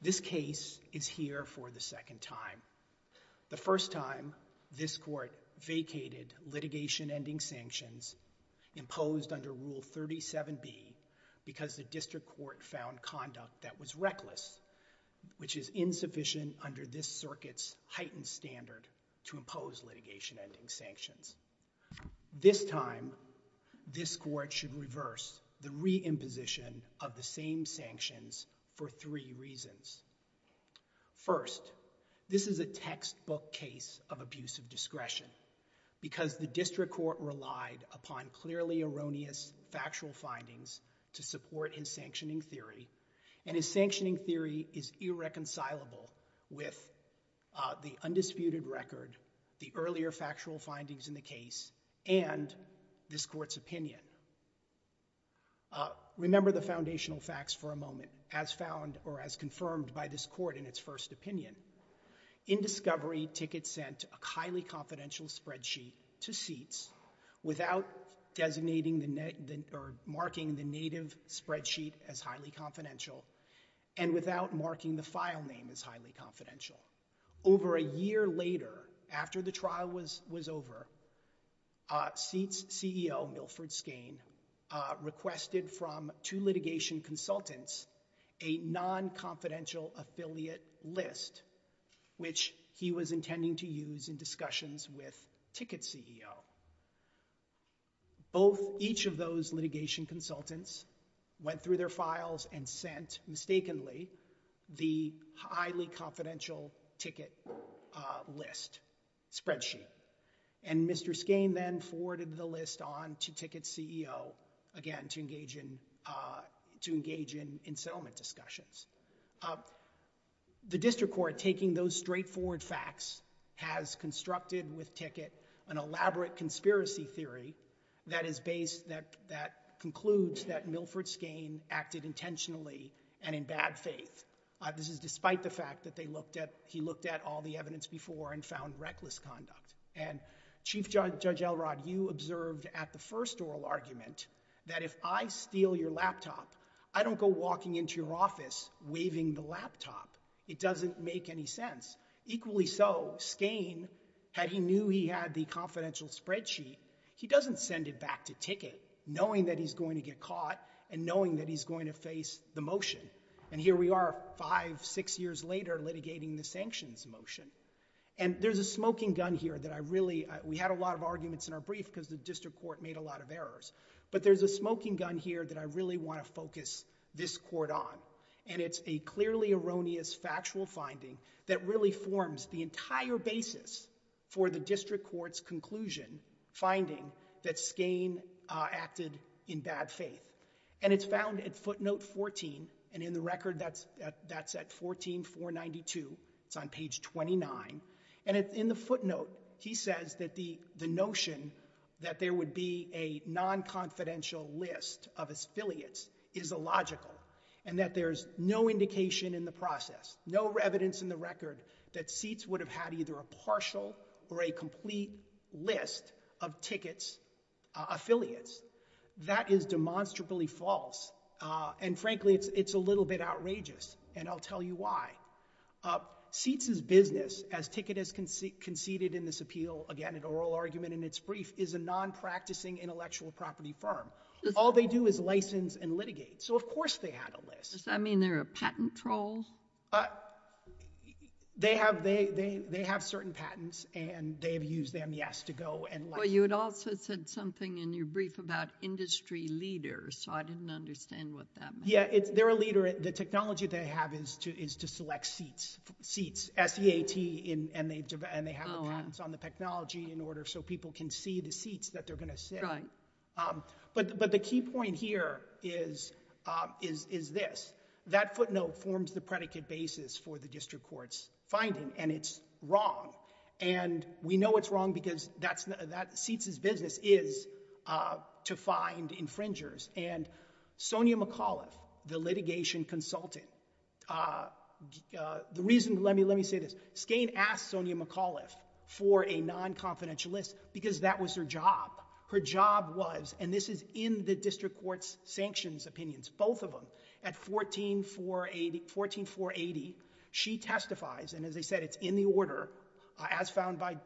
This case is here for the second time. The first time, this court vacated litigation-ending sanctions imposed under Rule 37B because the district court found conduct that was reckless, is insufficient under this circuit's heightened standard to impose litigation-ending sanctions. This time, this court should reverse the re-imposition of the same sanctions for three reasons. First, this is a textbook case of abusive discretion because the district court relied upon clearly erroneous factual findings to support his sanctioning theory, and his sanctioning theory is irreconcilable with the undisputed record, the earlier factual findings in the case, and this court's opinion. Remember the foundational facts for a moment, as found or as confirmed by this court in its first opinion. In discovery, Ticket sent a highly confidential spreadsheet to SEATS without designating or marking the native spreadsheet as highly confidential and without marking the file name as highly confidential. Over a year later, after the trial was over, SEATS CEO Milford Skane requested from two litigation consultants a non-confidential affiliate list, which he was intending to use in discussions with Ticket's CEO. Both each of those litigation consultants went through their files and sent, mistakenly, the highly confidential Ticket list spreadsheet, and Mr. Skane then forwarded the list on to Ticket's CEO, again, to engage in settlement discussions. The district court, taking those straightforward facts, has constructed with Ticket an elaborate conspiracy theory that concludes that Milford Skane acted intentionally and in bad faith. This is despite the fact that he looked at all the evidence before and found reckless conduct, and Chief Judge Elrod, you observed at the first oral argument, that if I steal your laptop, I don't go walking into your office waving the laptop. It doesn't make any sense. Equally so, Skane, had he knew he had the confidential spreadsheet, he doesn't send it back to Ticket knowing that he's going to get caught and knowing that he's going to face the motion. And here we are, five, six years later, litigating the sanctions motion. And there's a smoking gun here that I really, we had a lot of arguments in our brief because the district court made a lot of errors. But there's a smoking gun here that I really want to focus this court on. And it's a clearly erroneous factual finding that really forms the entire basis for the district court's conclusion, finding that Skane acted in bad faith. And it's found at footnote 14, and in the record that's at 14492, it's on page 29. And in the footnote, he says that the notion that there would be a non-confidential list of his affiliates is illogical, and that there's no indication in the process, no evidence in the record that Seats would have had either a partial or a complete list of Ticket's affiliates. That is demonstrably false. And frankly, it's a little bit outrageous, and I'll tell you why. Seats's business, as Ticket has conceded in this appeal, again, an oral argument in its brief, is a non-practicing intellectual property firm. All they do is license and litigate. So of course they had a list. Does that mean they're a patent troll? They have certain patents, and they've used them, yes, to go and license. Well, you had also said something in your brief about industry leaders, so I didn't understand what that meant. Yeah, they're a leader. The technology they have is to select Seats, S-E-A-T, and they have the patents on the technology in order so people can see the Seats that they're going to sit on. But the key point here is this. That footnote forms the predicate basis for the district court's finding, and it's wrong. And we know it's wrong because Seats's business is to find infringers, and Sonia McAuliffe, the litigation consultant, the reason, let me say this, Skane asked Sonia McAuliffe for a non-confidential list because that was her job. Her job was, and this is in the district court's sanctions opinions, both of them, at 14480, she testifies, and as I said, it's in the order as found by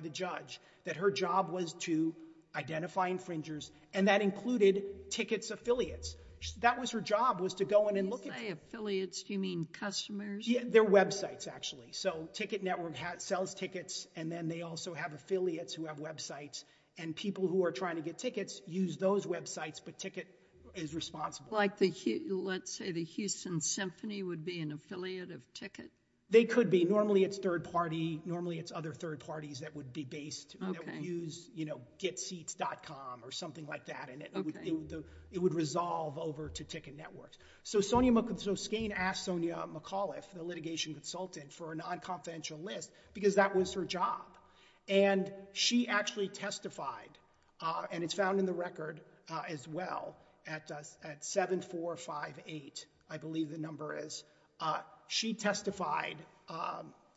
the judge, that her job was to identify infringers, and that included tickets affiliates. That was her job, was to go in and look at... When you say affiliates, do you mean customers? Yeah, they're websites, actually. So Ticket Network sells tickets, and then they also have affiliates who have websites, and people who are trying to get tickets use those websites, but Ticket is responsible. Like the, let's say the Houston Symphony would be an affiliate of Ticket? They could be. Normally it's third party, normally it's other third parties that would be based, that would use getseats.com or something like that, and it would resolve over to Ticket Network. So Skane asked Sonia McAuliffe, the litigation consultant, for a non-confidential list because that was her job, and she actually testified, and it's found in the record as well, at 7458, I believe the number is. She testified,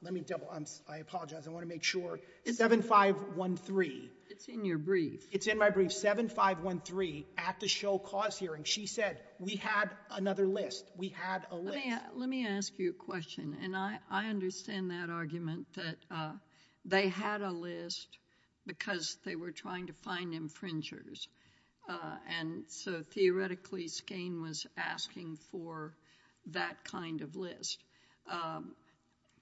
let me double, I apologize, I want to make sure, 7513. It's in your brief. It's in my brief, 7513 at the show cause hearing. She said, we had another list, we had a list. Let me ask you a question, and I understand that argument that they had a list because they were trying to find infringers, and so theoretically Skane was asking for that kind of list.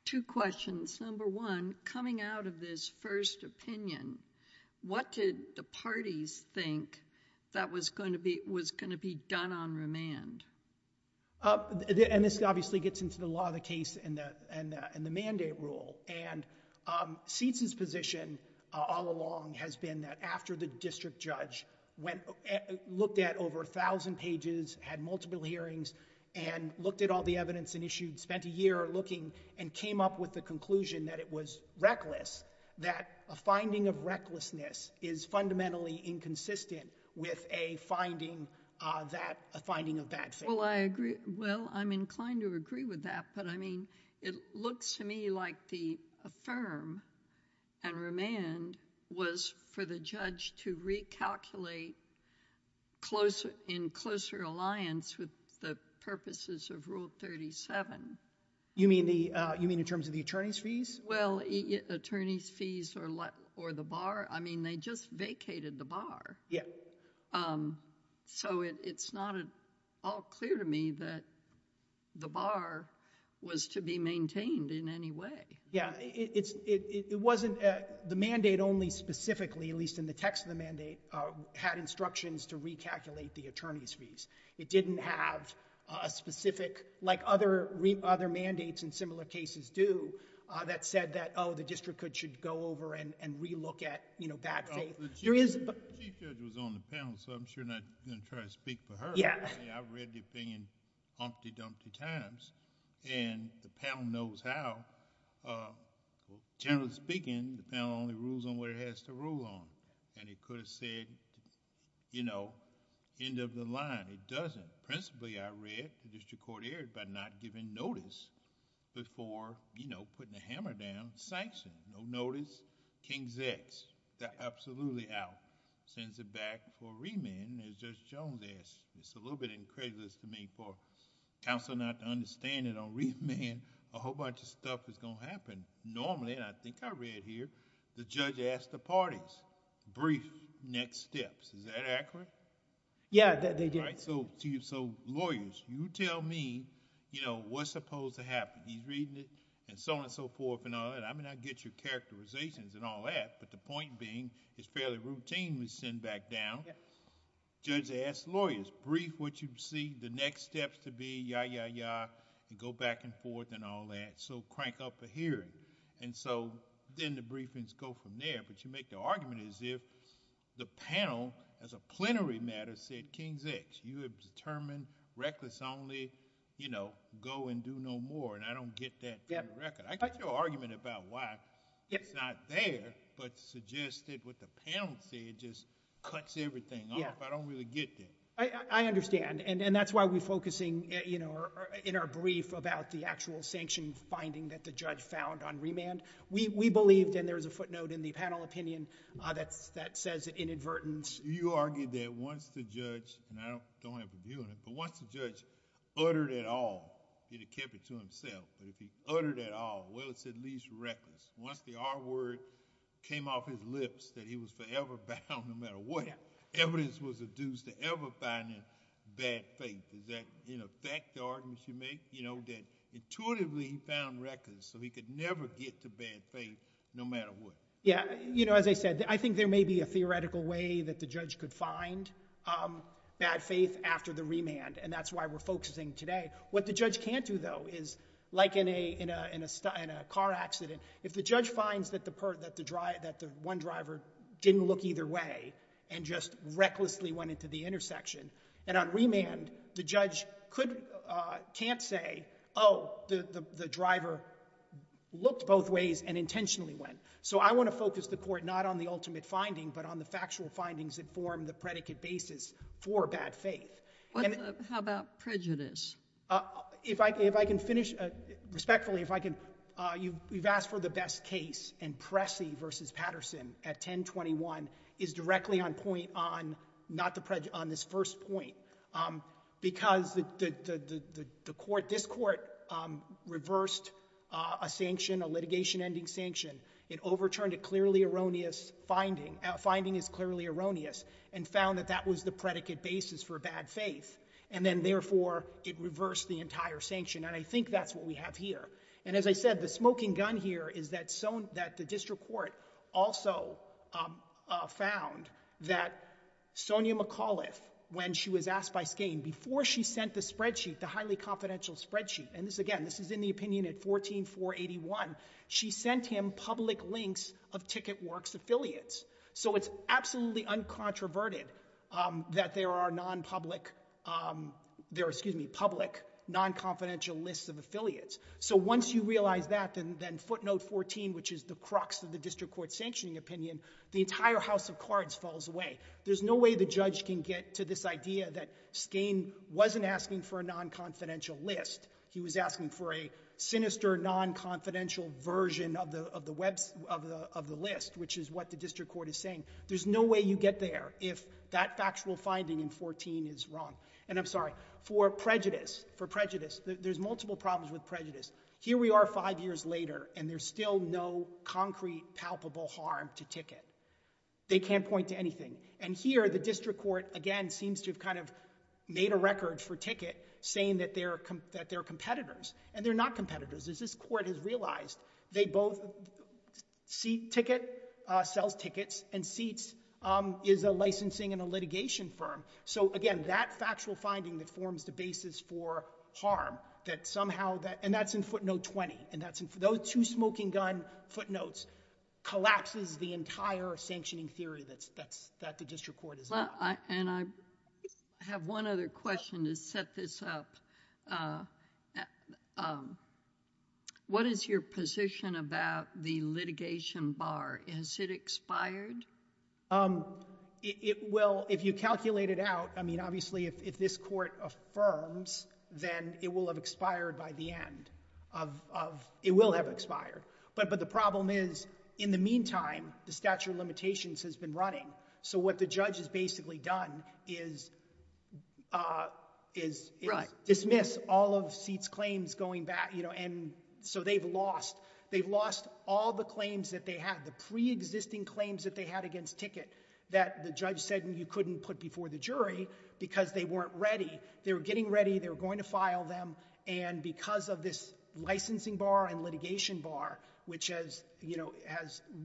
Two questions, number one, coming out of this first opinion, what did the parties think that was going to be done on remand? And this obviously gets into the law of the case and the mandate rule, and Seitz's position all along has been that after the district judge looked at over a thousand pages, had an issue, spent a year looking, and came up with the conclusion that it was reckless, that a finding of recklessness is fundamentally inconsistent with a finding of bad faith. Well, I agree, well, I'm inclined to agree with that, but I mean, it looks to me like the affirm and remand was for the judge to recalculate in closer alliance with the purposes of Rule 37. You mean in terms of the attorney's fees? Well, attorney's fees or the bar, I mean, they just vacated the bar. Yeah. So, it's not at all clear to me that the bar was to be maintained in any way. Yeah, it wasn't, the mandate only specifically, at least in the text of the mandate, had instructions to recalculate the attorney's fees. It didn't have a specific, like other mandates in similar cases do, that said that, oh, the district should go over and re-look at bad faith. The chief judge was on the panel, so I'm sure not going to try to speak for her, but I mean, I've read the opinion umpty-dumpty times, and the panel knows how. Generally speaking, the panel only rules on what it has to rule on, and it could have said, you know, end of the line. It doesn't. Principally, I read, the district court erred by not giving notice before, you know, putting a hammer down, sanction, no notice, King's X, they're absolutely out, sends it back for remand, as Judge Jones asked. It's a little bit incredulous to me for counsel not to understand that on remand, a whole bunch of stuff is going to happen. Normally, and I think I read here, the judge asked the parties, brief, next steps. Is that accurate? Yeah, they did. So, lawyers, you tell me, you know, what's supposed to happen. He's reading it, and so on and so forth and all that. I mean, I get your characterizations and all that, but the point being, it's fairly routinely sent back down. Yes. Judge asked lawyers, brief what you see, the next steps to be, yah, yah, yah, and go back and forth and all that, so crank up a hearing. So, then the briefings go from there, but you make the argument as if the panel is going to make it, and then the panel, as a plenary matter, said, King's X. You have determined, reckless only, go and do no more, and I don't get that for the record. I get your argument about why it's not there, but suggested with the panel say it just cuts everything off, I don't really get that. I understand, and that's why we're focusing in our brief about the actual sanction finding that the judge found on remand. We believed, and there's a footnote in the panel opinion that says that inadvertently found reckless, so he could never get to bad faith, no matter what. Yah, you know, as I said, I think there may be a theoretical way that the judge could find bad faith after the remand, and that's why we're focusing today. What the judge can't do, though, is, like in a car accident, if the judge finds that the one driver didn't look either way and just recklessly went into the intersection, and on remand, the judge can't say, oh, the driver looked both ways and intentionally went. So I want to focus the court not on the ultimate finding, but on the factual findings that form the predicate basis for bad faith. How about prejudice? If I can finish, respectfully, if I can, you've asked for the best case, and Pressy versus Patterson at 1021 is directly on point on this first point, because this court reversed a sanction, a litigation-ending sanction. It overturned a clearly erroneous finding. A finding is clearly erroneous, and found that that was the predicate basis for bad faith, and then, therefore, it reversed the entire sanction, and I think that's what we have here. And as I said, the smoking gun here is that the district court also found that Sonia McAuliffe, when she was asked by Skane, before she sent the spreadsheet, the highly confidential spreadsheet, and this, again, this is in the opinion at 14481, she sent him public links of TicketWorks affiliates. So it's absolutely uncontroverted that there are non-public, there are, excuse me, public non-confidential lists of affiliates. So once you realize that, then footnote 14, which is the crux of the district court sanctioning opinion, the entire house of cards falls away. There's no way the judge can get to this idea that Skane wasn't asking for a non-confidential list, he was asking for a sinister non-confidential version of the list, which is what the district court is saying. There's no way you get there if that factual finding in 14 is wrong. And I'm sorry, for prejudice, for prejudice, there's multiple problems with prejudice. Here we are five years later, and there's still no concrete palpable harm to Ticket. They can't point to anything. And here, the district court, again, seems to have kind of made a record for Ticket, saying that they're competitors. And they're not competitors. As this court has realized, they both, Seat Ticket sells tickets, and Seat is a licensing and a litigation firm. So again, that factual finding that forms the basis for harm, that somehow, and that's in footnote 20, those two smoking gun footnotes, collapses the entire sanctioning theory that the district court is on. And I have one other question to set this up. What is your position about the litigation bar? Is it expired? It will, if you calculate it out, I mean, obviously, if this court affirms, then it will have expired by the end. It will have expired. But the problem is, in the meantime, the statute of limitations has been running. So what the judge has basically done is dismiss all of Seat's claims going back. And so they've lost all the claims that they had, the pre-existing claims that they had against Ticket that the judge said you couldn't put before the jury because they weren't ready. They were getting ready. They were going to file them. And because of this licensing bar and litigation bar, which has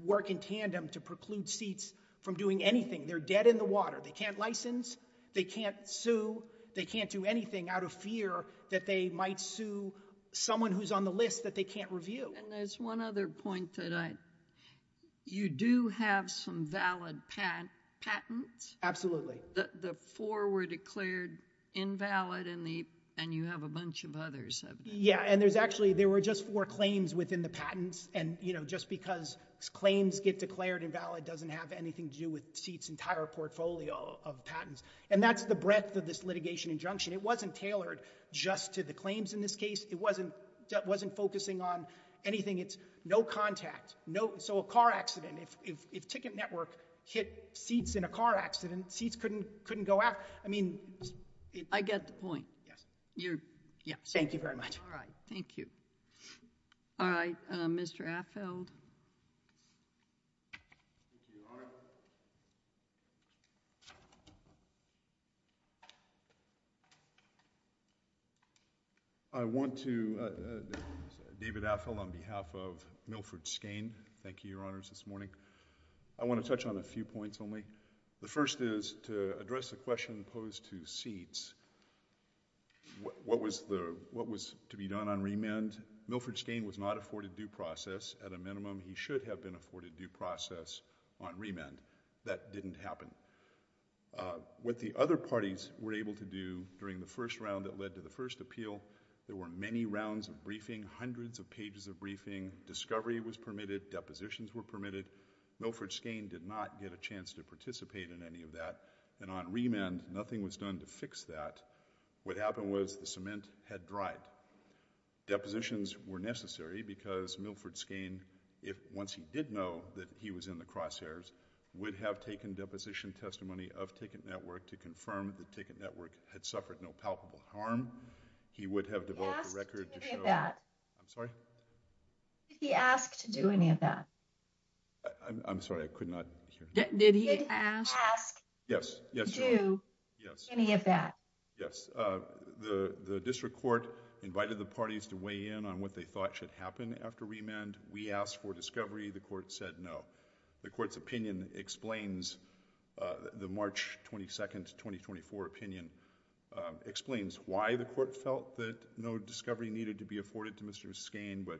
work in tandem to do that, they're not doing anything. They're dead in the water. They can't license. They can't sue. They can't do anything out of fear that they might sue someone who's on the list that they can't review. And there's one other point that I, you do have some valid patents. Absolutely. The four were declared invalid and you have a bunch of others. Yeah. And there's actually, there were just four claims within the patents. And, you know, just because claims get declared invalid doesn't have anything to do with Seat's entire portfolio of patents. And that's the breadth of this litigation injunction. It wasn't tailored just to the claims in this case. It wasn't focusing on anything. It's no contact. So a car accident, if Ticket Network hit Seat's in a car accident, Seat's couldn't go out. I mean. I get the point. Yes. Thank you very much. All right. Thank you. All right. Mr. Affeld. Thank you, Your Honor. I want to, David Affeld on behalf of Milford Skane. Thank you, Your Honors, this morning. I want to touch on a few points only. The first is to address the question posed to Seat's. What was to be done on remand? Milford Skane was not afforded due process. At a minimum, he should have been afforded due process on remand. That didn't happen. What the other parties were able to do during the first round that led to the first appeal, there were many rounds of briefing, hundreds of pages of Discovery was permitted. Depositions were permitted. Milford Skane did not get a chance to participate in any of that. And on remand, nothing was done to fix that. What happened was the cement had dried. Depositions were necessary because Milford Skane, if once he did know that he was in the crosshairs, would have taken deposition testimony of Ticket Network to confirm that Ticket Network had suffered no palpable harm. He would have developed a record to show. Did he ask to do any of that? I'm sorry? I'm sorry. I could not hear you. Did he ask? Yes. Did he ask to do any of that? Yes. The district court invited the parties to weigh in on what they thought should happen after remand. We asked for discovery. The court said no. The court's opinion explains the March 22nd, 2024 opinion, explains why the court felt that no discovery needed to be afforded to Mr. Skane. But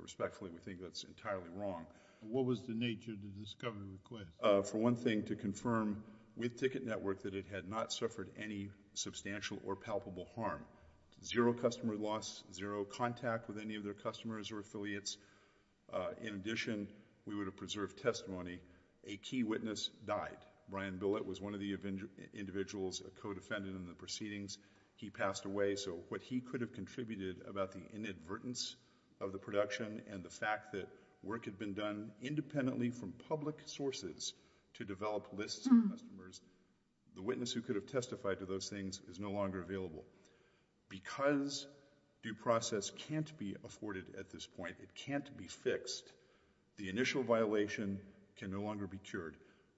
respectfully, we think that's entirely wrong. What was the nature of the discovery request? For one thing, to confirm with Ticket Network that it had not suffered any substantial or palpable harm, zero customer loss, zero contact with any of their customers or affiliates. In addition, we would have preserved testimony. A key witness died. Brian Billett was one of the individuals, a co-defendant in the proceedings. He passed away. So what he could have contributed about the inadvertence of the production and the fact that work had been done independently from public sources to develop lists of customers, the witness who could have testified to those things is no longer available. Because due process can't be afforded at this point, it can't be fixed, the initial violation can no longer be cured.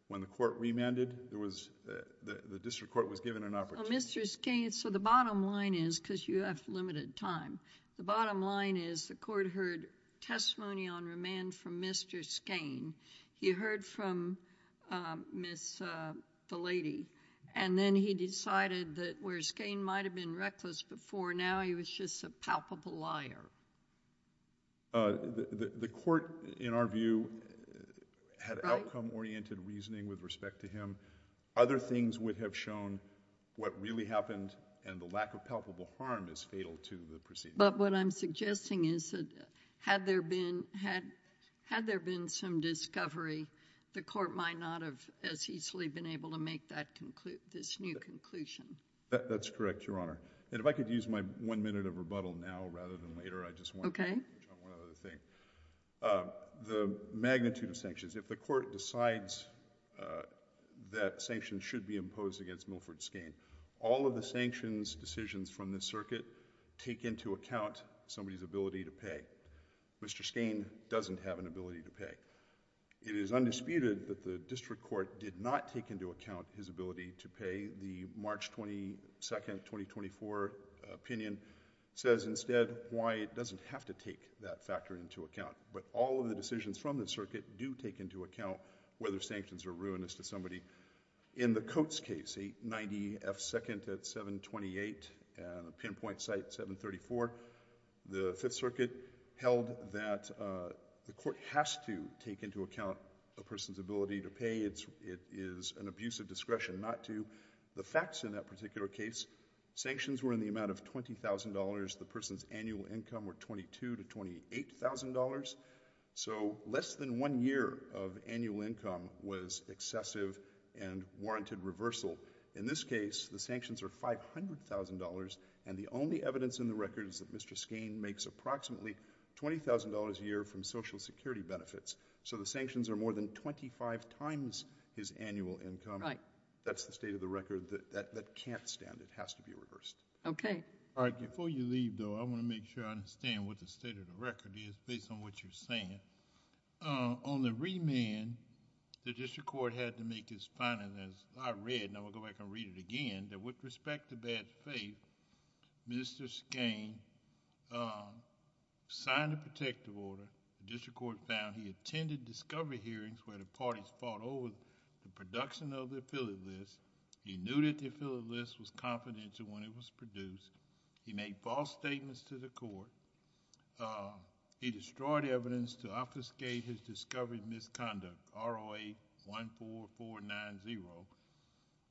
When the court remanded, the district court was given an opportunity... Well, Mr. Skane, so the bottom line is, because you have limited time, the bottom line is the court heard testimony on remand from Mr. Skane. He heard from Miss... the lady. And then he decided that where Skane might have been reckless before, now he was just a palpable liar. The court, in our view... Right.... had outcome-oriented reasoning with respect to him. Other things would have shown what really happened and the lack of palpable harm is fatal to the proceeding. But what I'm suggesting is that had there been some discovery, the court might not have as easily been able to make this new conclusion. That's correct, Your Honor. And if I could use my one minute of rebuttal now rather than later...... I just want to touch on one other thing. The magnitude of sanctions. If the court decides that sanctions should be imposed against Milford Skane, all of the sanctions decisions from the circuit take into account somebody's ability to pay. Mr. Skane doesn't have an ability to pay. It is undisputed that the district court did not take into account his ability to pay. The March 22, 2024 opinion says instead why it doesn't have to take that factor into account. But all of the decisions from the circuit do take into account whether sanctions are ruinous to somebody. In the Coates case, 890 F. 2nd at 728 and the pinpoint site 734, the Fifth Circuit held that the court has to take into account a person's ability to pay. It is an abuse of discretion not to. The facts in that particular case, sanctions were in the amount of $20,000. The person's annual income were $22,000 to $28,000. So less than one year of annual income was excessive and warranted reversal. In this case, the sanctions are $500,000, and the only evidence in the record is that Mr. Skane makes approximately $20,000 a year from Social Security benefits. So the sanctions are more than 25 times his annual income. That's the state of the record that can't stand. It has to be reversed. Okay. All right. Before you leave, though, I want to make sure I understand what the state of the record is, based on what you're saying. On the remand, the district court had to make this finding, as I read, and I'm going to go back and read it again, that with respect to bad faith, Mr. Skane signed a protective order. The district court found he attended discovery hearings where the parties fought over the production of the affiliate list. He knew that the affiliate list was confidential when it was produced. He made false statements to the court. He destroyed evidence to obfuscate his discovered misconduct, ROA 14490,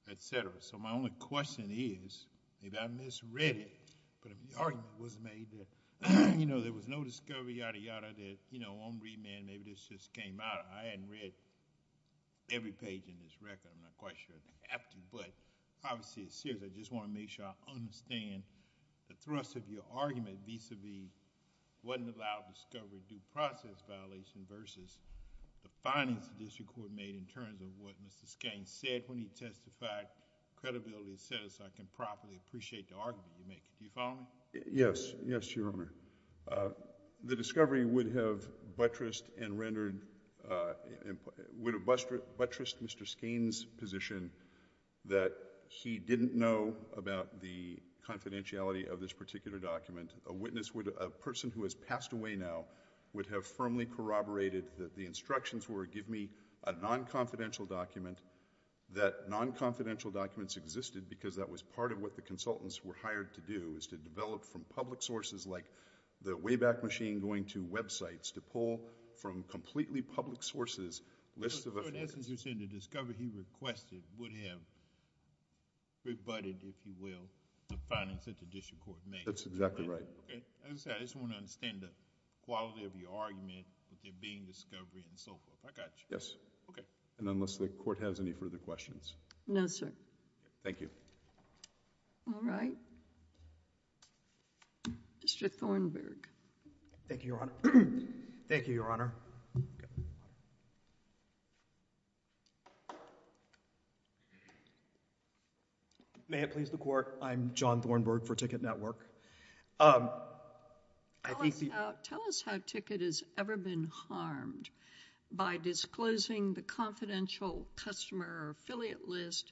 et cetera. So my only question is, if I misread it, but if the argument was made that, you know, there was no discovery, yada, yada, that, you know, on remand, maybe this just came out. I hadn't read every page in this record. I'm not quite sure if I have to, but obviously it's serious. I just want to make sure I understand the thrust of your argument, vis-à-vis it wasn't allowed to discover due process violation versus the findings the district court made in terms of what Mr. Skane said when he testified, credibility of the sentence, so I can properly appreciate the argument you make. Do you follow me? Yes. Yes, Your Honor. The discovery would have buttressed Mr. Skane's position that he didn't know about the confidentiality of this particular document. A person who has passed away now would have firmly corroborated that the instructions were give me a non-confidential document, that non-confidential documents existed because that was part of what the consultants were hired to do, is to develop from public sources like the Wayback Machine going to websites, to pull from completely public sources lists of... So in essence, you're saying the discovery he requested would have rebutted, if you will, the findings that the district court made? That's exactly right. As I said, I just want to understand the quality of your argument that there being discovery and so forth. I got you. Yes. Okay. Unless the court has any further questions. No, sir. Thank you. All right. Mr. Thornburg. Thank you, Your Honor. Thank you, Your Honor. May it please the court. I'm John Thornburg for Ticket Network. Tell us how Ticket has ever been harmed by disclosing the confidential customer or affiliate list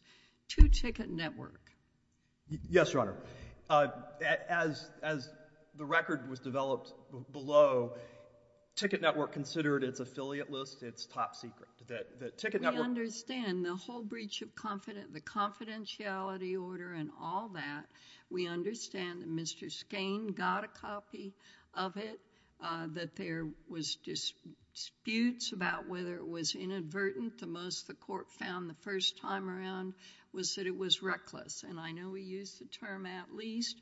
to Ticket Network. Yes, Your Honor. As the record was developed below, Ticket Network considered its affiliate list its top secret. We understand the whole breach of confidentiality order and all that. We understand that Mr. Skane got a copy of it, that there was disputes about whether it was inadvertent. The most the court found the first time around was that it was reckless. I know we use the term at least.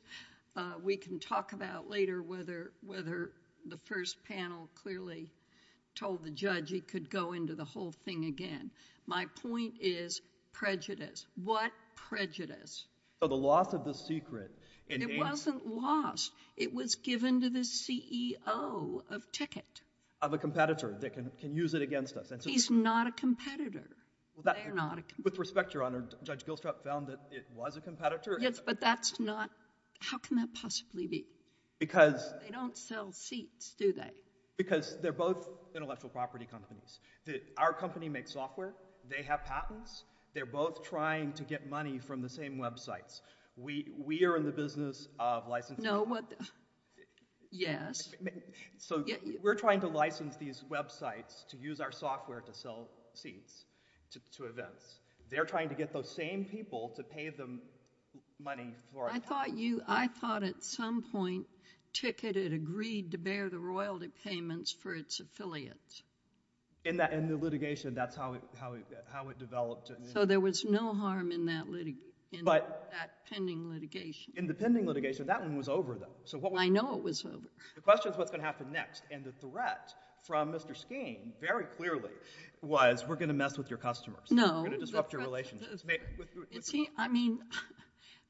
We can talk about later whether the first panel clearly told the judge he could go into the whole thing again. My point is prejudice. What prejudice? The loss of the secret... It wasn't lost. It was given to the CEO of Ticket. Of a competitor that can use it against us. He's not a competitor. They're not a... With respect, Your Honor, Judge Gilstrap found that it was a competitor. Yes, but that's not... How can that possibly be? Because... They don't sell seats, do they? Because they're both intellectual property companies. Our company makes software. They have patents. They're both trying to get money from the same websites. We are in the business of licensing... No, what... Yes. We're trying to license these websites to use our software to sell seats to events. They're trying to get those same people to pay them money for... I thought at some point Ticket had agreed to bear the royalty payments for its affiliates. In the litigation, that's how it developed. There was no harm in that pending litigation. In the pending litigation, that one was over, though. I know it was over. The question is what's going to happen next. The threat from Mr. Skeen, very clearly, was we're going to mess with your customers. No. We're going to disrupt your relationships.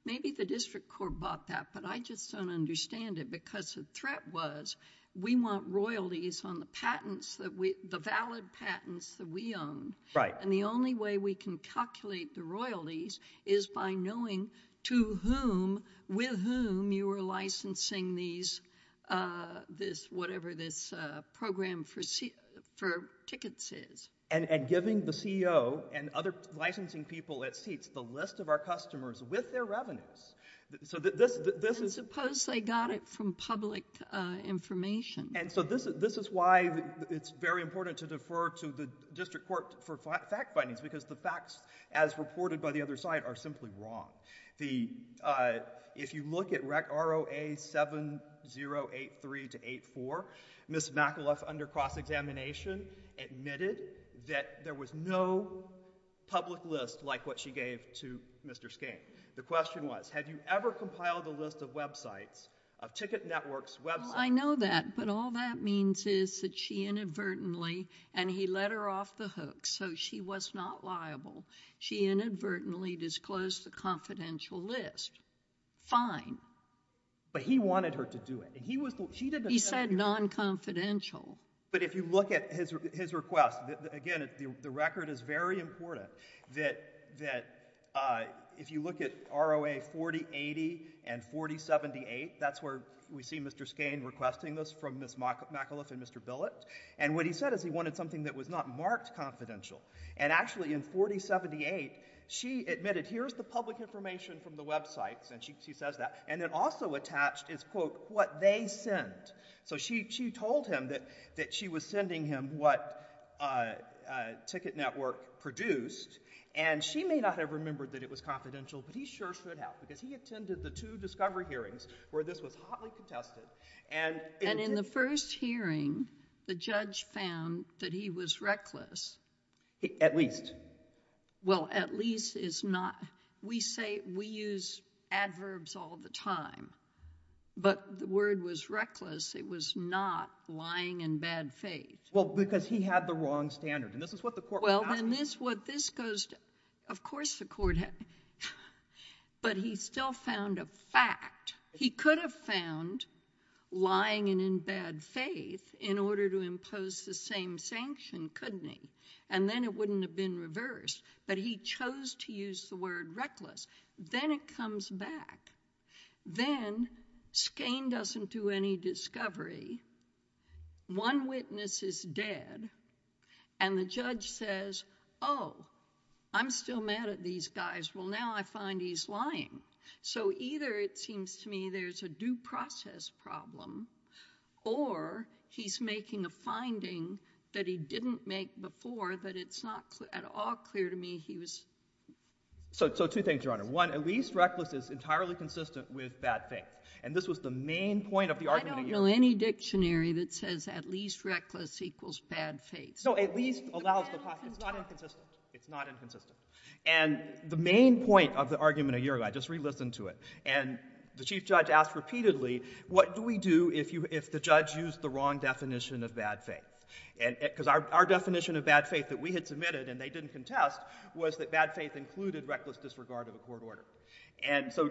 Maybe the district court bought that, but I just don't understand it, because the threat was we want royalties on the patents, the valid patents that we own. The only way we can calculate the royalties is by knowing to whom, with whom you are licensing whatever this program for tickets is. And giving the CEO and other licensing people at seats the list of our customers with their revenues. Suppose they got it from public information. This is why it's very important to defer to the district court for fact findings, because the facts, as reported by the other side, are simply wrong. If you look at ROA 7083-84, Ms. McAuliffe, under cross-examination, admitted that there was no public list like what she gave to Mr. Skeen. The question was, have you ever compiled a list of websites, of ticket networks' websites? I know that, but all that means is that she inadvertently, and he let her off the hook, so she was not liable. She inadvertently disclosed the confidential list. Fine. But he wanted her to do it. He said non-confidential. But if you look at his request, again, the record is very important, that if you look at ROA 4080 and 4078, that's where we see Mr. Skeen requesting this from Ms. McAuliffe and Mr. Billett, and what he said is he wanted something that was not marked confidential. And actually, in 4078, she admitted, here's the public information from the websites, and she says that, and then also attached is, quote, what they sent. So she told him that she was sending him what a ticket network produced, and she may not have remembered that it was confidential, but he sure should have, because he attended the two discovery hearings where this was hotly contested. And in the first hearing, the judge found that he was reckless. At least. Well, at least is not. We say we use adverbs all the time, but the word was reckless. It was not lying in bad faith. Well, because he had the wrong standard, and this is what the court was asking. Well, and this goes to, of course the court had, but he still found a fact. He could have found lying and in bad faith in order to impose the same sanction, couldn't he? And then it wouldn't have been reversed, but he chose to use the word reckless. Then it comes back. Then Skane doesn't do any discovery. One witness is dead, and the judge says, oh, I'm still mad at these guys. Well, now I find he's lying. So either it seems to me there's a due process problem, or he's making a finding that he didn't make before that it's not at all clear to me he was. So two things, Your Honor. One, at least reckless is entirely consistent with bad faith. And this was the main point of the argument of Uruguay. I don't know any dictionary that says at least reckless equals bad faith. No, at least allows the possibility. It's not inconsistent. It's not inconsistent. And the main point of the argument of Uruguay, just re-listen to it, and the chief judge asked repeatedly, what do we do if the judge used the wrong definition of bad faith? Because our definition of bad faith that we had submitted and they didn't contest was that bad faith included reckless disregard of the court order. And so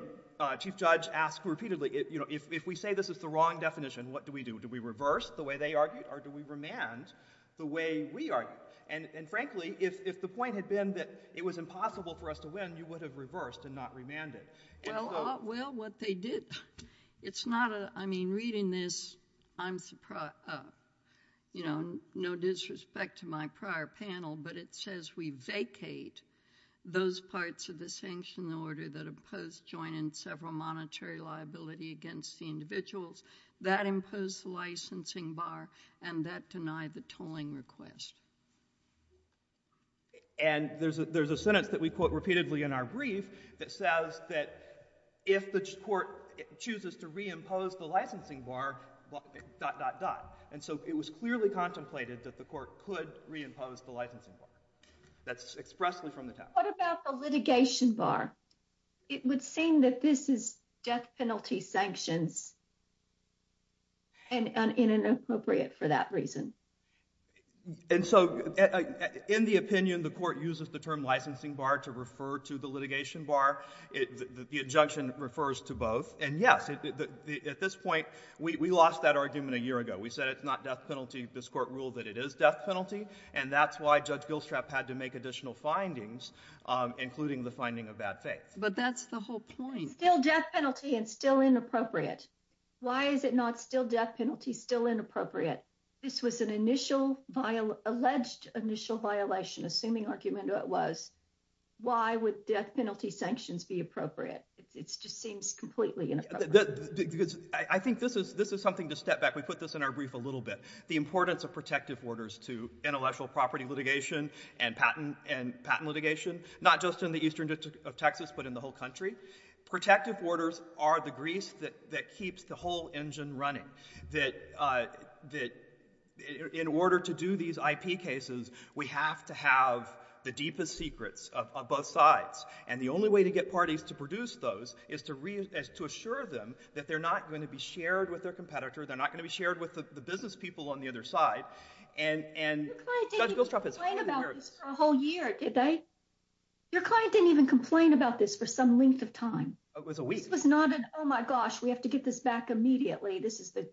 chief judge asked repeatedly, if we say this is the wrong definition, what do we do? Do we reverse the way they argued, or do we remand the way we argued? And frankly, if the point had been that it was impossible for us to win, you would have reversed and not remanded. Well, what they did, it's not a, I mean, reading this, I'm surprised, you know, no disrespect to my prior panel, but it says we vacate those parts of the sanction order that impose joint and several monetary liability against the individuals. That imposed the licensing bar, and that denied the tolling request. And there's a sentence that we quote repeatedly in our brief that says that if the court chooses to re-impose the licensing bar, dot, dot, dot. And so it was clearly contemplated that the court could re-impose the licensing bar. That's expressly from the town. What about the litigation bar? It would seem that this is death penalty sanctions, and inappropriate for that reason. And so in the opinion, the court uses the term licensing bar to refer to the litigation bar. The injunction refers to both. And yes, at this point, we lost that argument a year ago. We said it's not death penalty. This court ruled that it is death penalty, and that's why Judge Gilstrap had to make additional findings, including the finding of bad faith. But that's the whole point. Still death penalty and still inappropriate. Why is it not still death penalty, still inappropriate? This was an alleged initial violation, assuming argument it was. Why would death penalty sanctions be appropriate? It just seems completely inappropriate. I think this is something to step back. We put this in our brief a little bit. The importance of protective orders to intellectual property litigation and patent litigation, not just in the eastern district of Texas, but in the whole country. Protective orders are the grease that keeps the whole engine running. In order to do these IP cases, we have to have the deepest secrets of both sides. And the only way to get parties to produce those is to assure them that they're not going to be shared with their competitor, they're not going to be shared with the business people on the other side. Your client didn't even complain about this for a whole year, did they? Your client didn't even complain about this for some length of time. It was a week. This was not an, oh my gosh, we have to get this back immediately. This is the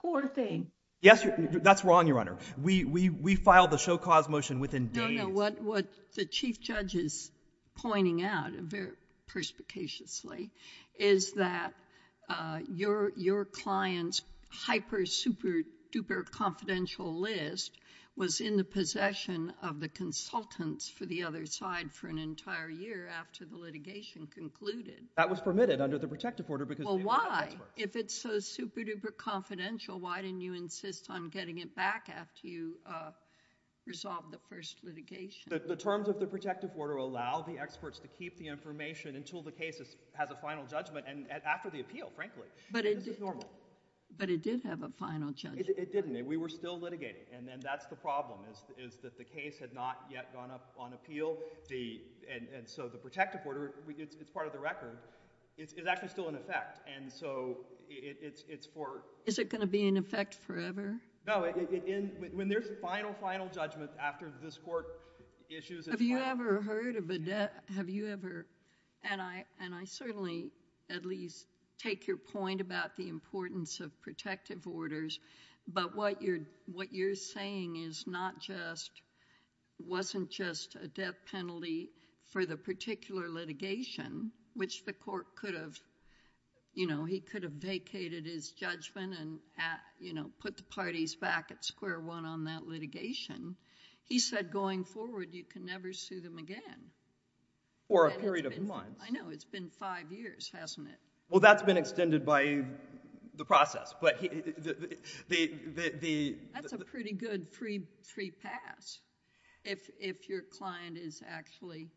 poor thing. Yes, that's wrong, Your Honor. We filed the show cause motion within days. No, no, what the chief judge is pointing out very perspicaciously is that your client's hyper-super-duper confidential list was in the possession of the consultants for the other side for an entire year after the litigation concluded. That was permitted under the protective order because... Well, why? If it's so super-duper confidential, why didn't you insist on getting it back after you resolved the first litigation? The terms of the protective order allow the experts to keep the information until the case has a final judgment and after the appeal, frankly. This is normal. But it did have a final judgment. It didn't. We were still litigating, and that's the problem, is that the case had not yet gone up on appeal, and so the protective order, it's part of the record, is actually still in effect, and so it's for... Is it going to be in effect forever? No, when there's final, final judgment after this court issues its final... Have you ever heard of a death... Have you ever... And I certainly at least take your point about the importance of protective orders, but what you're saying is not just... wasn't just a death penalty for the particular litigation, which the court could have, you know, he could have vacated his judgment and, you know, put the parties back at square one on that litigation. He said going forward you can never sue them again. For a period of months. I know. It's been five years, hasn't it? Well, that's been extended by the process, but the... That's a pretty good free pass if your client is actually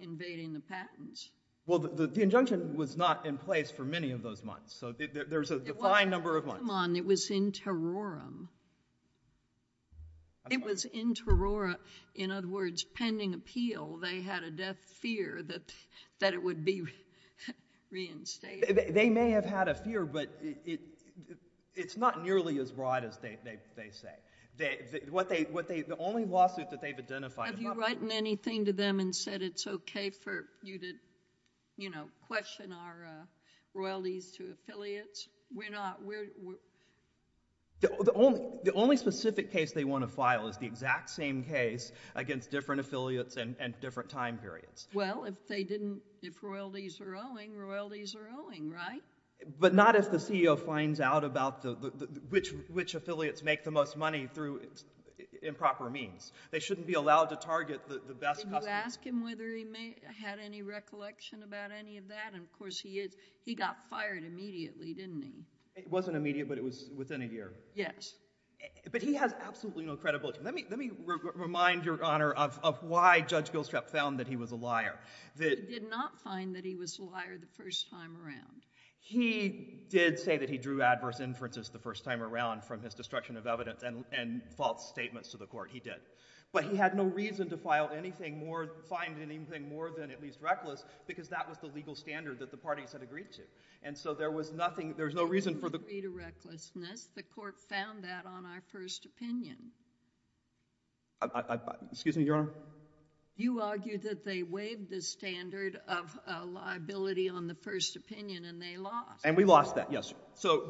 invading the patents. Well, the injunction was not in place for many of those months, so there's a defined number of months. Come on. It was in terrorum. It was in terrorum. In other words, pending appeal, they had a death fear that it would be reinstated. They may have had a fear, but it's not nearly as broad as they say. The only lawsuit that they've identified... Have you written anything to them and said it's okay for you to, you know, question our royalties to affiliates? We're not... The only specific case they want to file is the exact same case against different affiliates and different time periods. Well, if they didn't... If royalties are owing, royalties are owing, right? But not if the CEO finds out about which affiliates make the most money through improper means. They shouldn't be allowed to target the best... Did you ask him whether he had any recollection about any of that? He got fired immediately, didn't he? It wasn't immediate, but it was within a year. Yes. But he has absolutely no credibility. Let me remind Your Honor of why Judge Gilstrap found that he was a liar. He did not find that he was a liar the first time around. He did say that he drew adverse inferences the first time around from his destruction of evidence and false statements to the court. He did. But he had no reason to find anything more than at least reckless because that was the legal standard that the parties had agreed to. And so there was nothing... There was no reason for the... He didn't agree to recklessness. The court found that on our first opinion. Excuse me, Your Honor? You argued that they waived the standard of liability on the first opinion, and they lost. And we lost that, yes.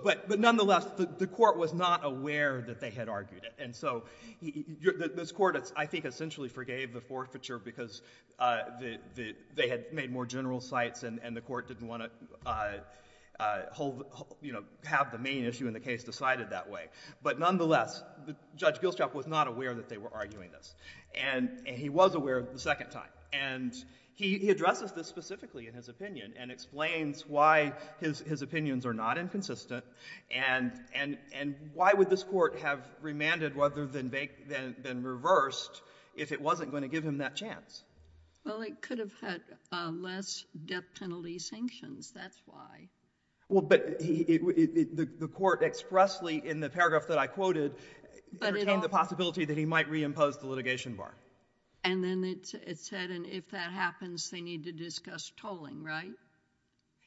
But nonetheless, the court was not aware that they had argued it. And so this court, I think, essentially forgave the forfeiture because they had made more general cites and the court didn't want to have the main issue in the case decided that way. But nonetheless, Judge Gilstrap was not aware that they were arguing this. And he was aware the second time. And he addresses this specifically in his opinion and explains why his opinions are not inconsistent and why would this court have remanded rather than reversed if it wasn't going to give him that chance? Well, it could have had less death penalty sanctions. That's why. Well, but the court expressly in the paragraph that I quoted entertained the possibility that he might reimpose the litigation bar. And then it said, and if that happens, they need to discuss tolling, right?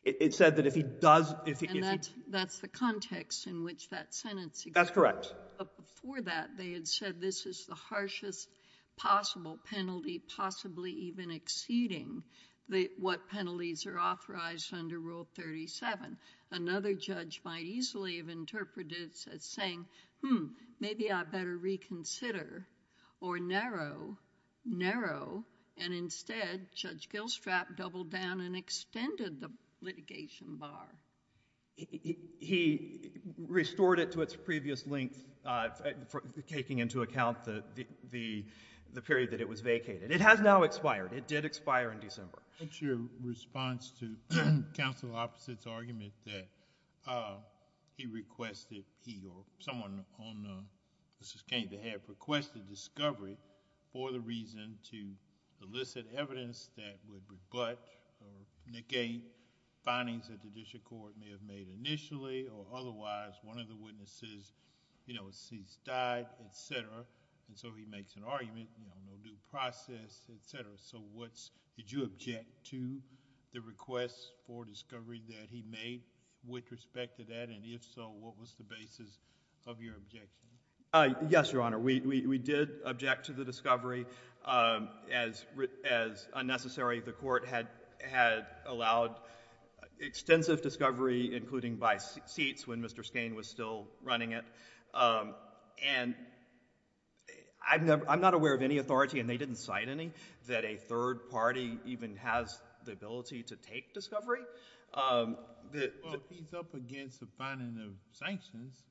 It said that if he does... And that's the context in which that sentence... That's correct. Before that, they had said this is the harshest possible penalty possibly even exceeding what penalties are authorized under Rule 37. Another judge might easily have interpreted it as saying, hmm, maybe I better reconsider or narrow, narrow. And instead, Judge Gilstrap doubled down and extended the litigation bar. He restored it to its previous length, taking into account the period that it was vacated. It has now expired. It did expire in December. What's your response to counsel Opposite's argument that he requested he or someone on the case that had requested discovery for the reason to elicit evidence that would rebut or negate findings that the Judicial Court may have made initially or otherwise one of the witnesses, you know, has died, et cetera. And so he makes an argument, you know, no new process, et cetera. So what's... Did you object to the request for discovery that he made with respect to that? And if so, what was the basis of your objection? Yes, Your Honor. We did object to the discovery as unnecessary. The court had allowed extensive discovery, including by seats when Mr. Skane was still running it. And I'm not aware of any authority, and they didn't cite any, that a third party even has the ability to take discovery. Well, if he's up against the finding of sanctions,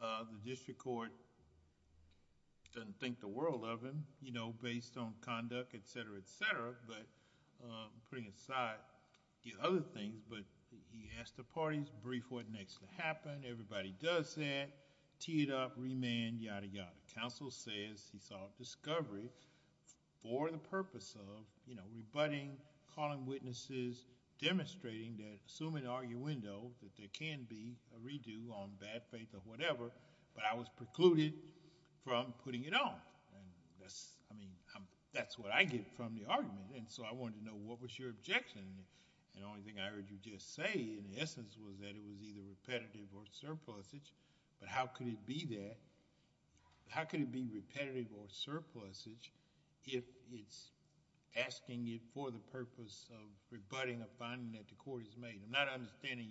the district court doesn't think the world of him, you know, based on conduct, et cetera, et cetera. But putting aside the other thing, but he asked the parties to brief what next to happen. Everybody does that. Tee it up, remand, yada, yada. Counsel says he sought discovery for the purpose of, you know, rebutting, calling witnesses, demonstrating that, assuming arguendo that there can be a redo on bad faith or whatever, but I was precluded from putting it on. And that's, I mean, that's what I get from the argument. And so I wanted to know what was your objection. And the only thing I heard you just say, in essence, was that it was either repetitive or surplusage. But how could it be that? How could it be repetitive or surplusage if it's asking it for the purpose of rebutting a finding that the court has made? I'm not understanding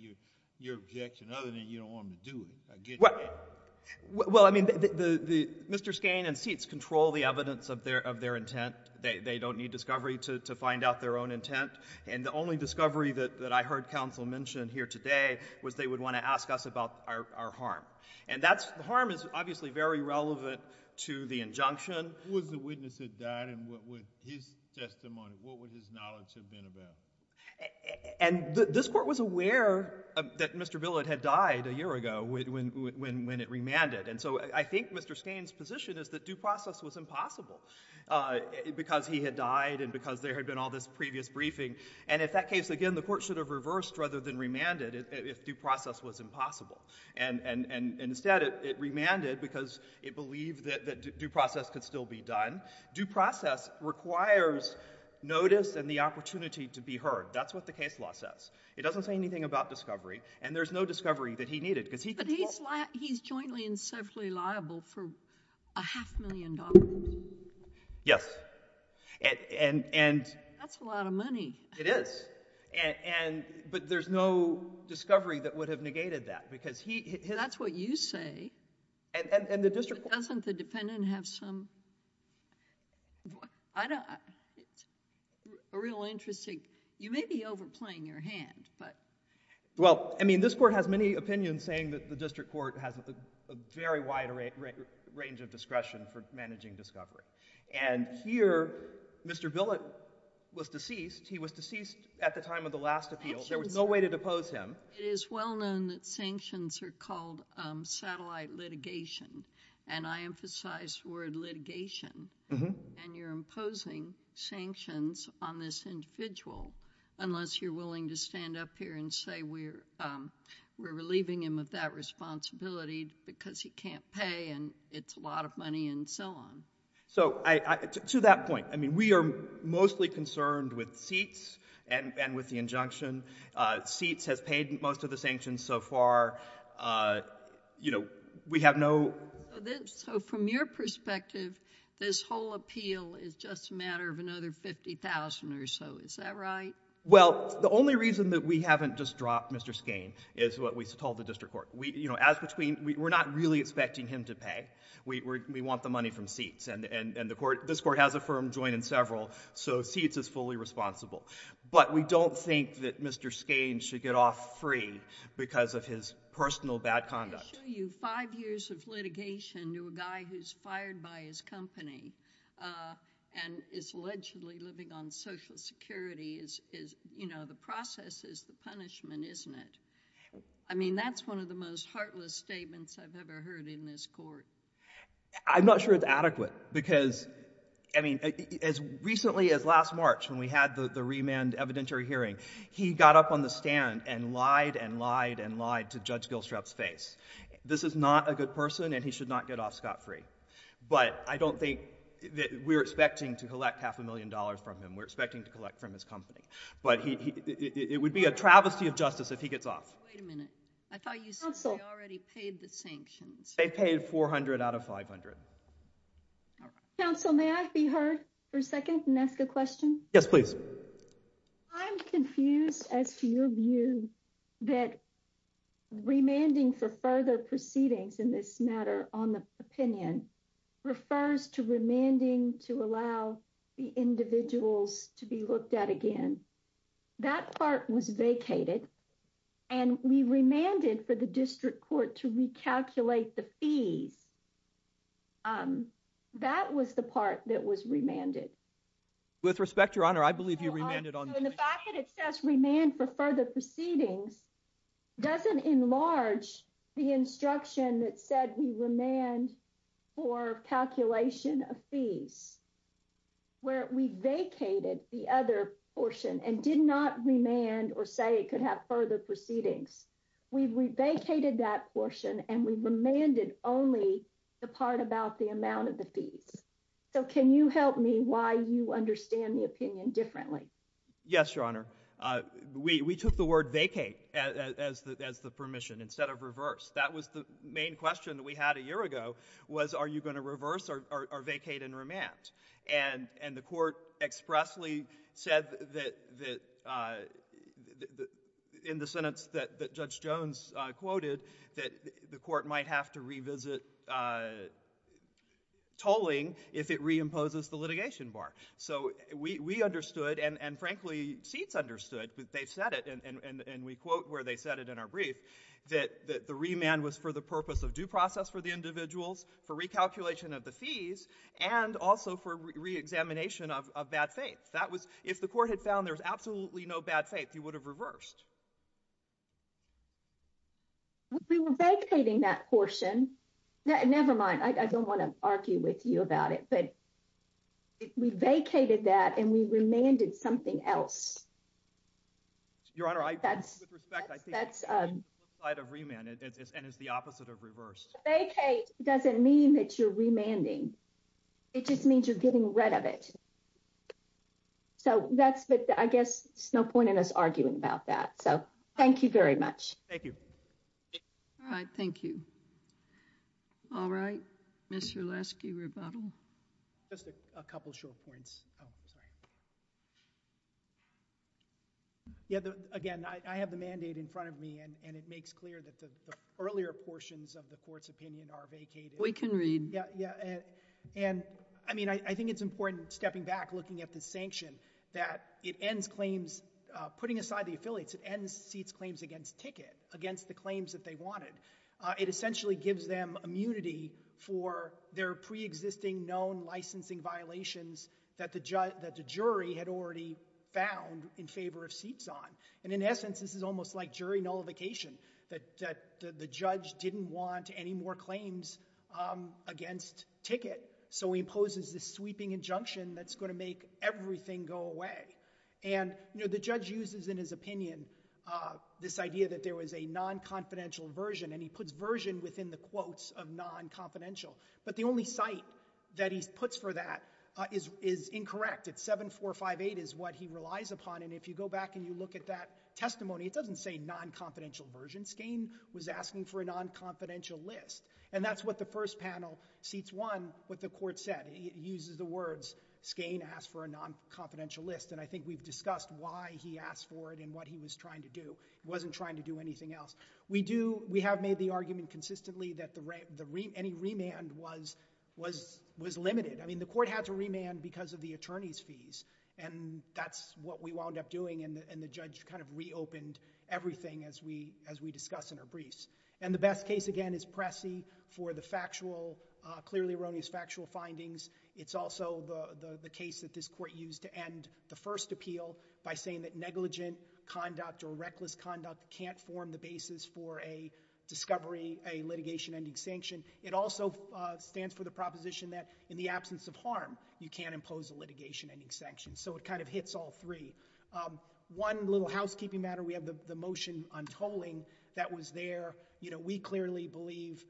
your objection other than you don't want me to do it. Well, I mean, Mr. Skane and Seitz control the evidence of their intent. They don't need discovery to find out their own intent. And the only discovery that I heard counsel mention here today was they would want to ask us about our harm. And that's – the harm is obviously very relevant to the injunction. Who was the witness that died and what would his testimony, what would his knowledge have been about? And this court was aware that Mr. Billett had died a year ago when it remanded. And so I think Mr. Skane's position is that due process was impossible because he had died and because there had been all this previous briefing. And in that case, again, the court should have reversed rather than remanded if due process was impossible. And instead it remanded because it believed that due process could still be done. Due process requires notice and the opportunity to be heard. That's what the case law says. It doesn't say anything about discovery, and there's no discovery that he needed. But he's jointly and separately liable for a half million dollars. Yes. That's a lot of money. It is. But there's no discovery that would have negated that because he – That's what you say. And the district court – Doesn't the dependent have some – I don't – a real interesting – you may be overplaying your hand, but – Well, I mean, this court has many opinions saying that the district court has a very wide range of discretion for managing discovery. And here, Mr. Billett was deceased. He was deceased at the time of the last appeal. There was no way to depose him. It is well known that sanctions are called satellite litigation, and I emphasize the word litigation. And you're imposing sanctions on this individual unless you're willing to stand up here and say we're relieving him of that responsibility because he can't pay and it's a lot of money and so on. So to that point, I mean, we are mostly concerned with seats and with the injunction. Seats has paid most of the sanctions so far. You know, we have no – So from your perspective, this whole appeal is just a matter of another 50,000 or so. Is that right? Well, the only reason that we haven't just dropped Mr. Skane is what we told the district court. You know, as between – we're not really expecting him to pay. We want the money from seats. And this court has a firm joint in several, so seats is fully responsible. But we don't think that Mr. Skane should get off free because of his personal bad conduct. I assure you five years of litigation to a guy who's fired by his company and is allegedly living on Social Security is, you know, the process is the punishment, isn't it? I mean, that's one of the most heartless statements I've ever heard in this court. I'm not sure it's adequate because, I mean, as recently as last March when we had the remand evidentiary hearing, he got up on the stand and lied and lied and lied to Judge Gilstrap's face. This is not a good person and he should not get off scot-free. But I don't think – we're expecting to collect half a million dollars from him. We're expecting to collect from his company. But it would be a travesty of justice if he gets off. Wait a minute. I thought you said they already paid the sanctions. They paid 400 out of 500. Counsel, may I be heard for a second and ask a question? Yes, please. I'm confused as to your view that remanding for further proceedings in this matter on the opinion refers to remanding to allow the individuals to be looked at again. That part was vacated, and we remanded for the district court to recalculate the fees. That was the part that was remanded. With respect, Your Honor, I believe you remanded on – So in the fact that it says remand for further proceedings doesn't enlarge the instruction that said we remand for calculation of fees, where we vacated the other portion and did not remand or say it could have further proceedings. We vacated that portion, and we remanded only the part about the amount of the fees. So can you help me why you understand the opinion differently? Yes, Your Honor. We took the word vacate as the permission instead of reverse. That was the main question that we had a year ago was, are you going to reverse or vacate and remand? And the court expressly said that in the sentence that Judge Jones quoted that the court might have to revisit tolling if it reimposes the litigation bar. So we understood, and frankly, seats understood that they said it, and we quote where they said it in our brief, that the remand was for the purpose of due process for the individuals, for recalculation of the fees, and also for reexamination of bad faith. If the court had found there was absolutely no bad faith, you would have reversed. We were vacating that portion. Never mind. I don't want to argue with you about it. But we vacated that, and we remanded something else. Your Honor, with respect, I think that's the opposite of remand, and it's the opposite of reverse. Vacate doesn't mean that you're remanding. It just means you're getting rid of it. So I guess there's no point in us arguing about that. So thank you very much. Thank you. All right. Thank you. All right. Mr. Lasky, rebuttal. Just a couple short points. Oh, sorry. Again, I have the mandate in front of me, and it makes clear that the earlier portions of the court's opinion are vacated. We can read. Yeah. And, I mean, I think it's important, stepping back, looking at the sanction, that it ends claims, putting aside the affiliates, it ends seats' claims against ticket, against the claims that they wanted. It essentially gives them immunity for their preexisting known licensing violations that the jury had already found in favor of seats on. And, in essence, this is almost like jury nullification, that the judge didn't want any more claims against ticket, so he imposes this sweeping injunction that's going to make everything go away. And, you know, the judge uses in his opinion this idea that there was a non-confidential version, and he puts version within the quotes of non-confidential. But the only site that he puts for that is incorrect. It's 7458 is what he relies upon. And if you go back and you look at that testimony, it doesn't say non-confidential version. Skane was asking for a non-confidential list. And that's what the first panel, seats 1, what the court said. It uses the words, Skane asked for a non-confidential list. And I think we've discussed why he asked for it and what he was trying to do. He wasn't trying to do anything else. We have made the argument consistently that any remand was limited. I mean, the court had to remand because of the attorney's fees. And that's what we wound up doing. And the judge kind of reopened everything, as we discuss in our briefs. And the best case, again, is Pressey for the clearly erroneous factual findings. It's also the case that this court used to end the first appeal by saying that negligent conduct or reckless conduct can't form the basis for a discovery, a litigation ending sanction. It also stands for the proposition that in the absence of harm, you can't impose a litigation ending sanction. So it kind of hits all three. One little housekeeping matter, we have the motion on tolling that was there. We clearly believe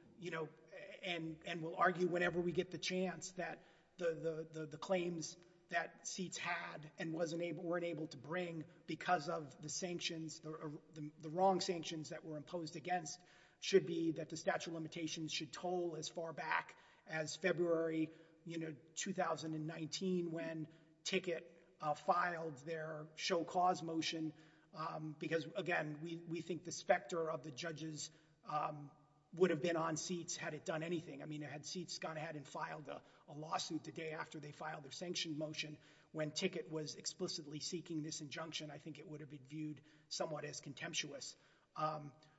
and will argue whenever we get the chance that the claims that seats had and weren't able to bring because of the wrong sanctions that were imposed against should be that the statute of limitations should toll as far back as February 2019 when Ticket filed their show cause motion. Because, again, we think the specter of the judges would have been on seats had it done anything. I mean, had seats gone ahead and filed a lawsuit the day after they filed their sanction motion when Ticket was explicitly seeking this injunction, I think it would have been viewed somewhat as contemptuous.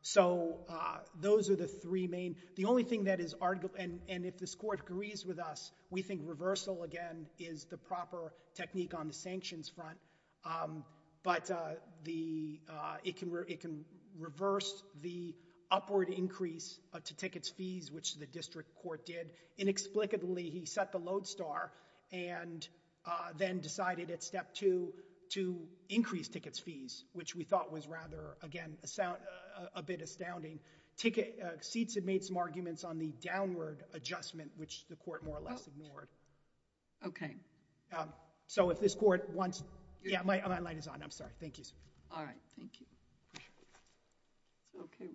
So those are the three main. The only thing that is argued, and if this court agrees with us, we think reversal, again, is the proper technique on the sanctions front. But it can reverse the upward increase to Ticket's fees, which the district court did. Inexplicably, he set the lodestar and then decided at step two to increase Ticket's fees, which we thought was rather, again, a bit astounding. Seats had made some arguments on the downward adjustment, which the court more or less ignored. Okay. So if this court wants – yeah, my light is on. I'm sorry. Thank you. All right. Thank you. Okay.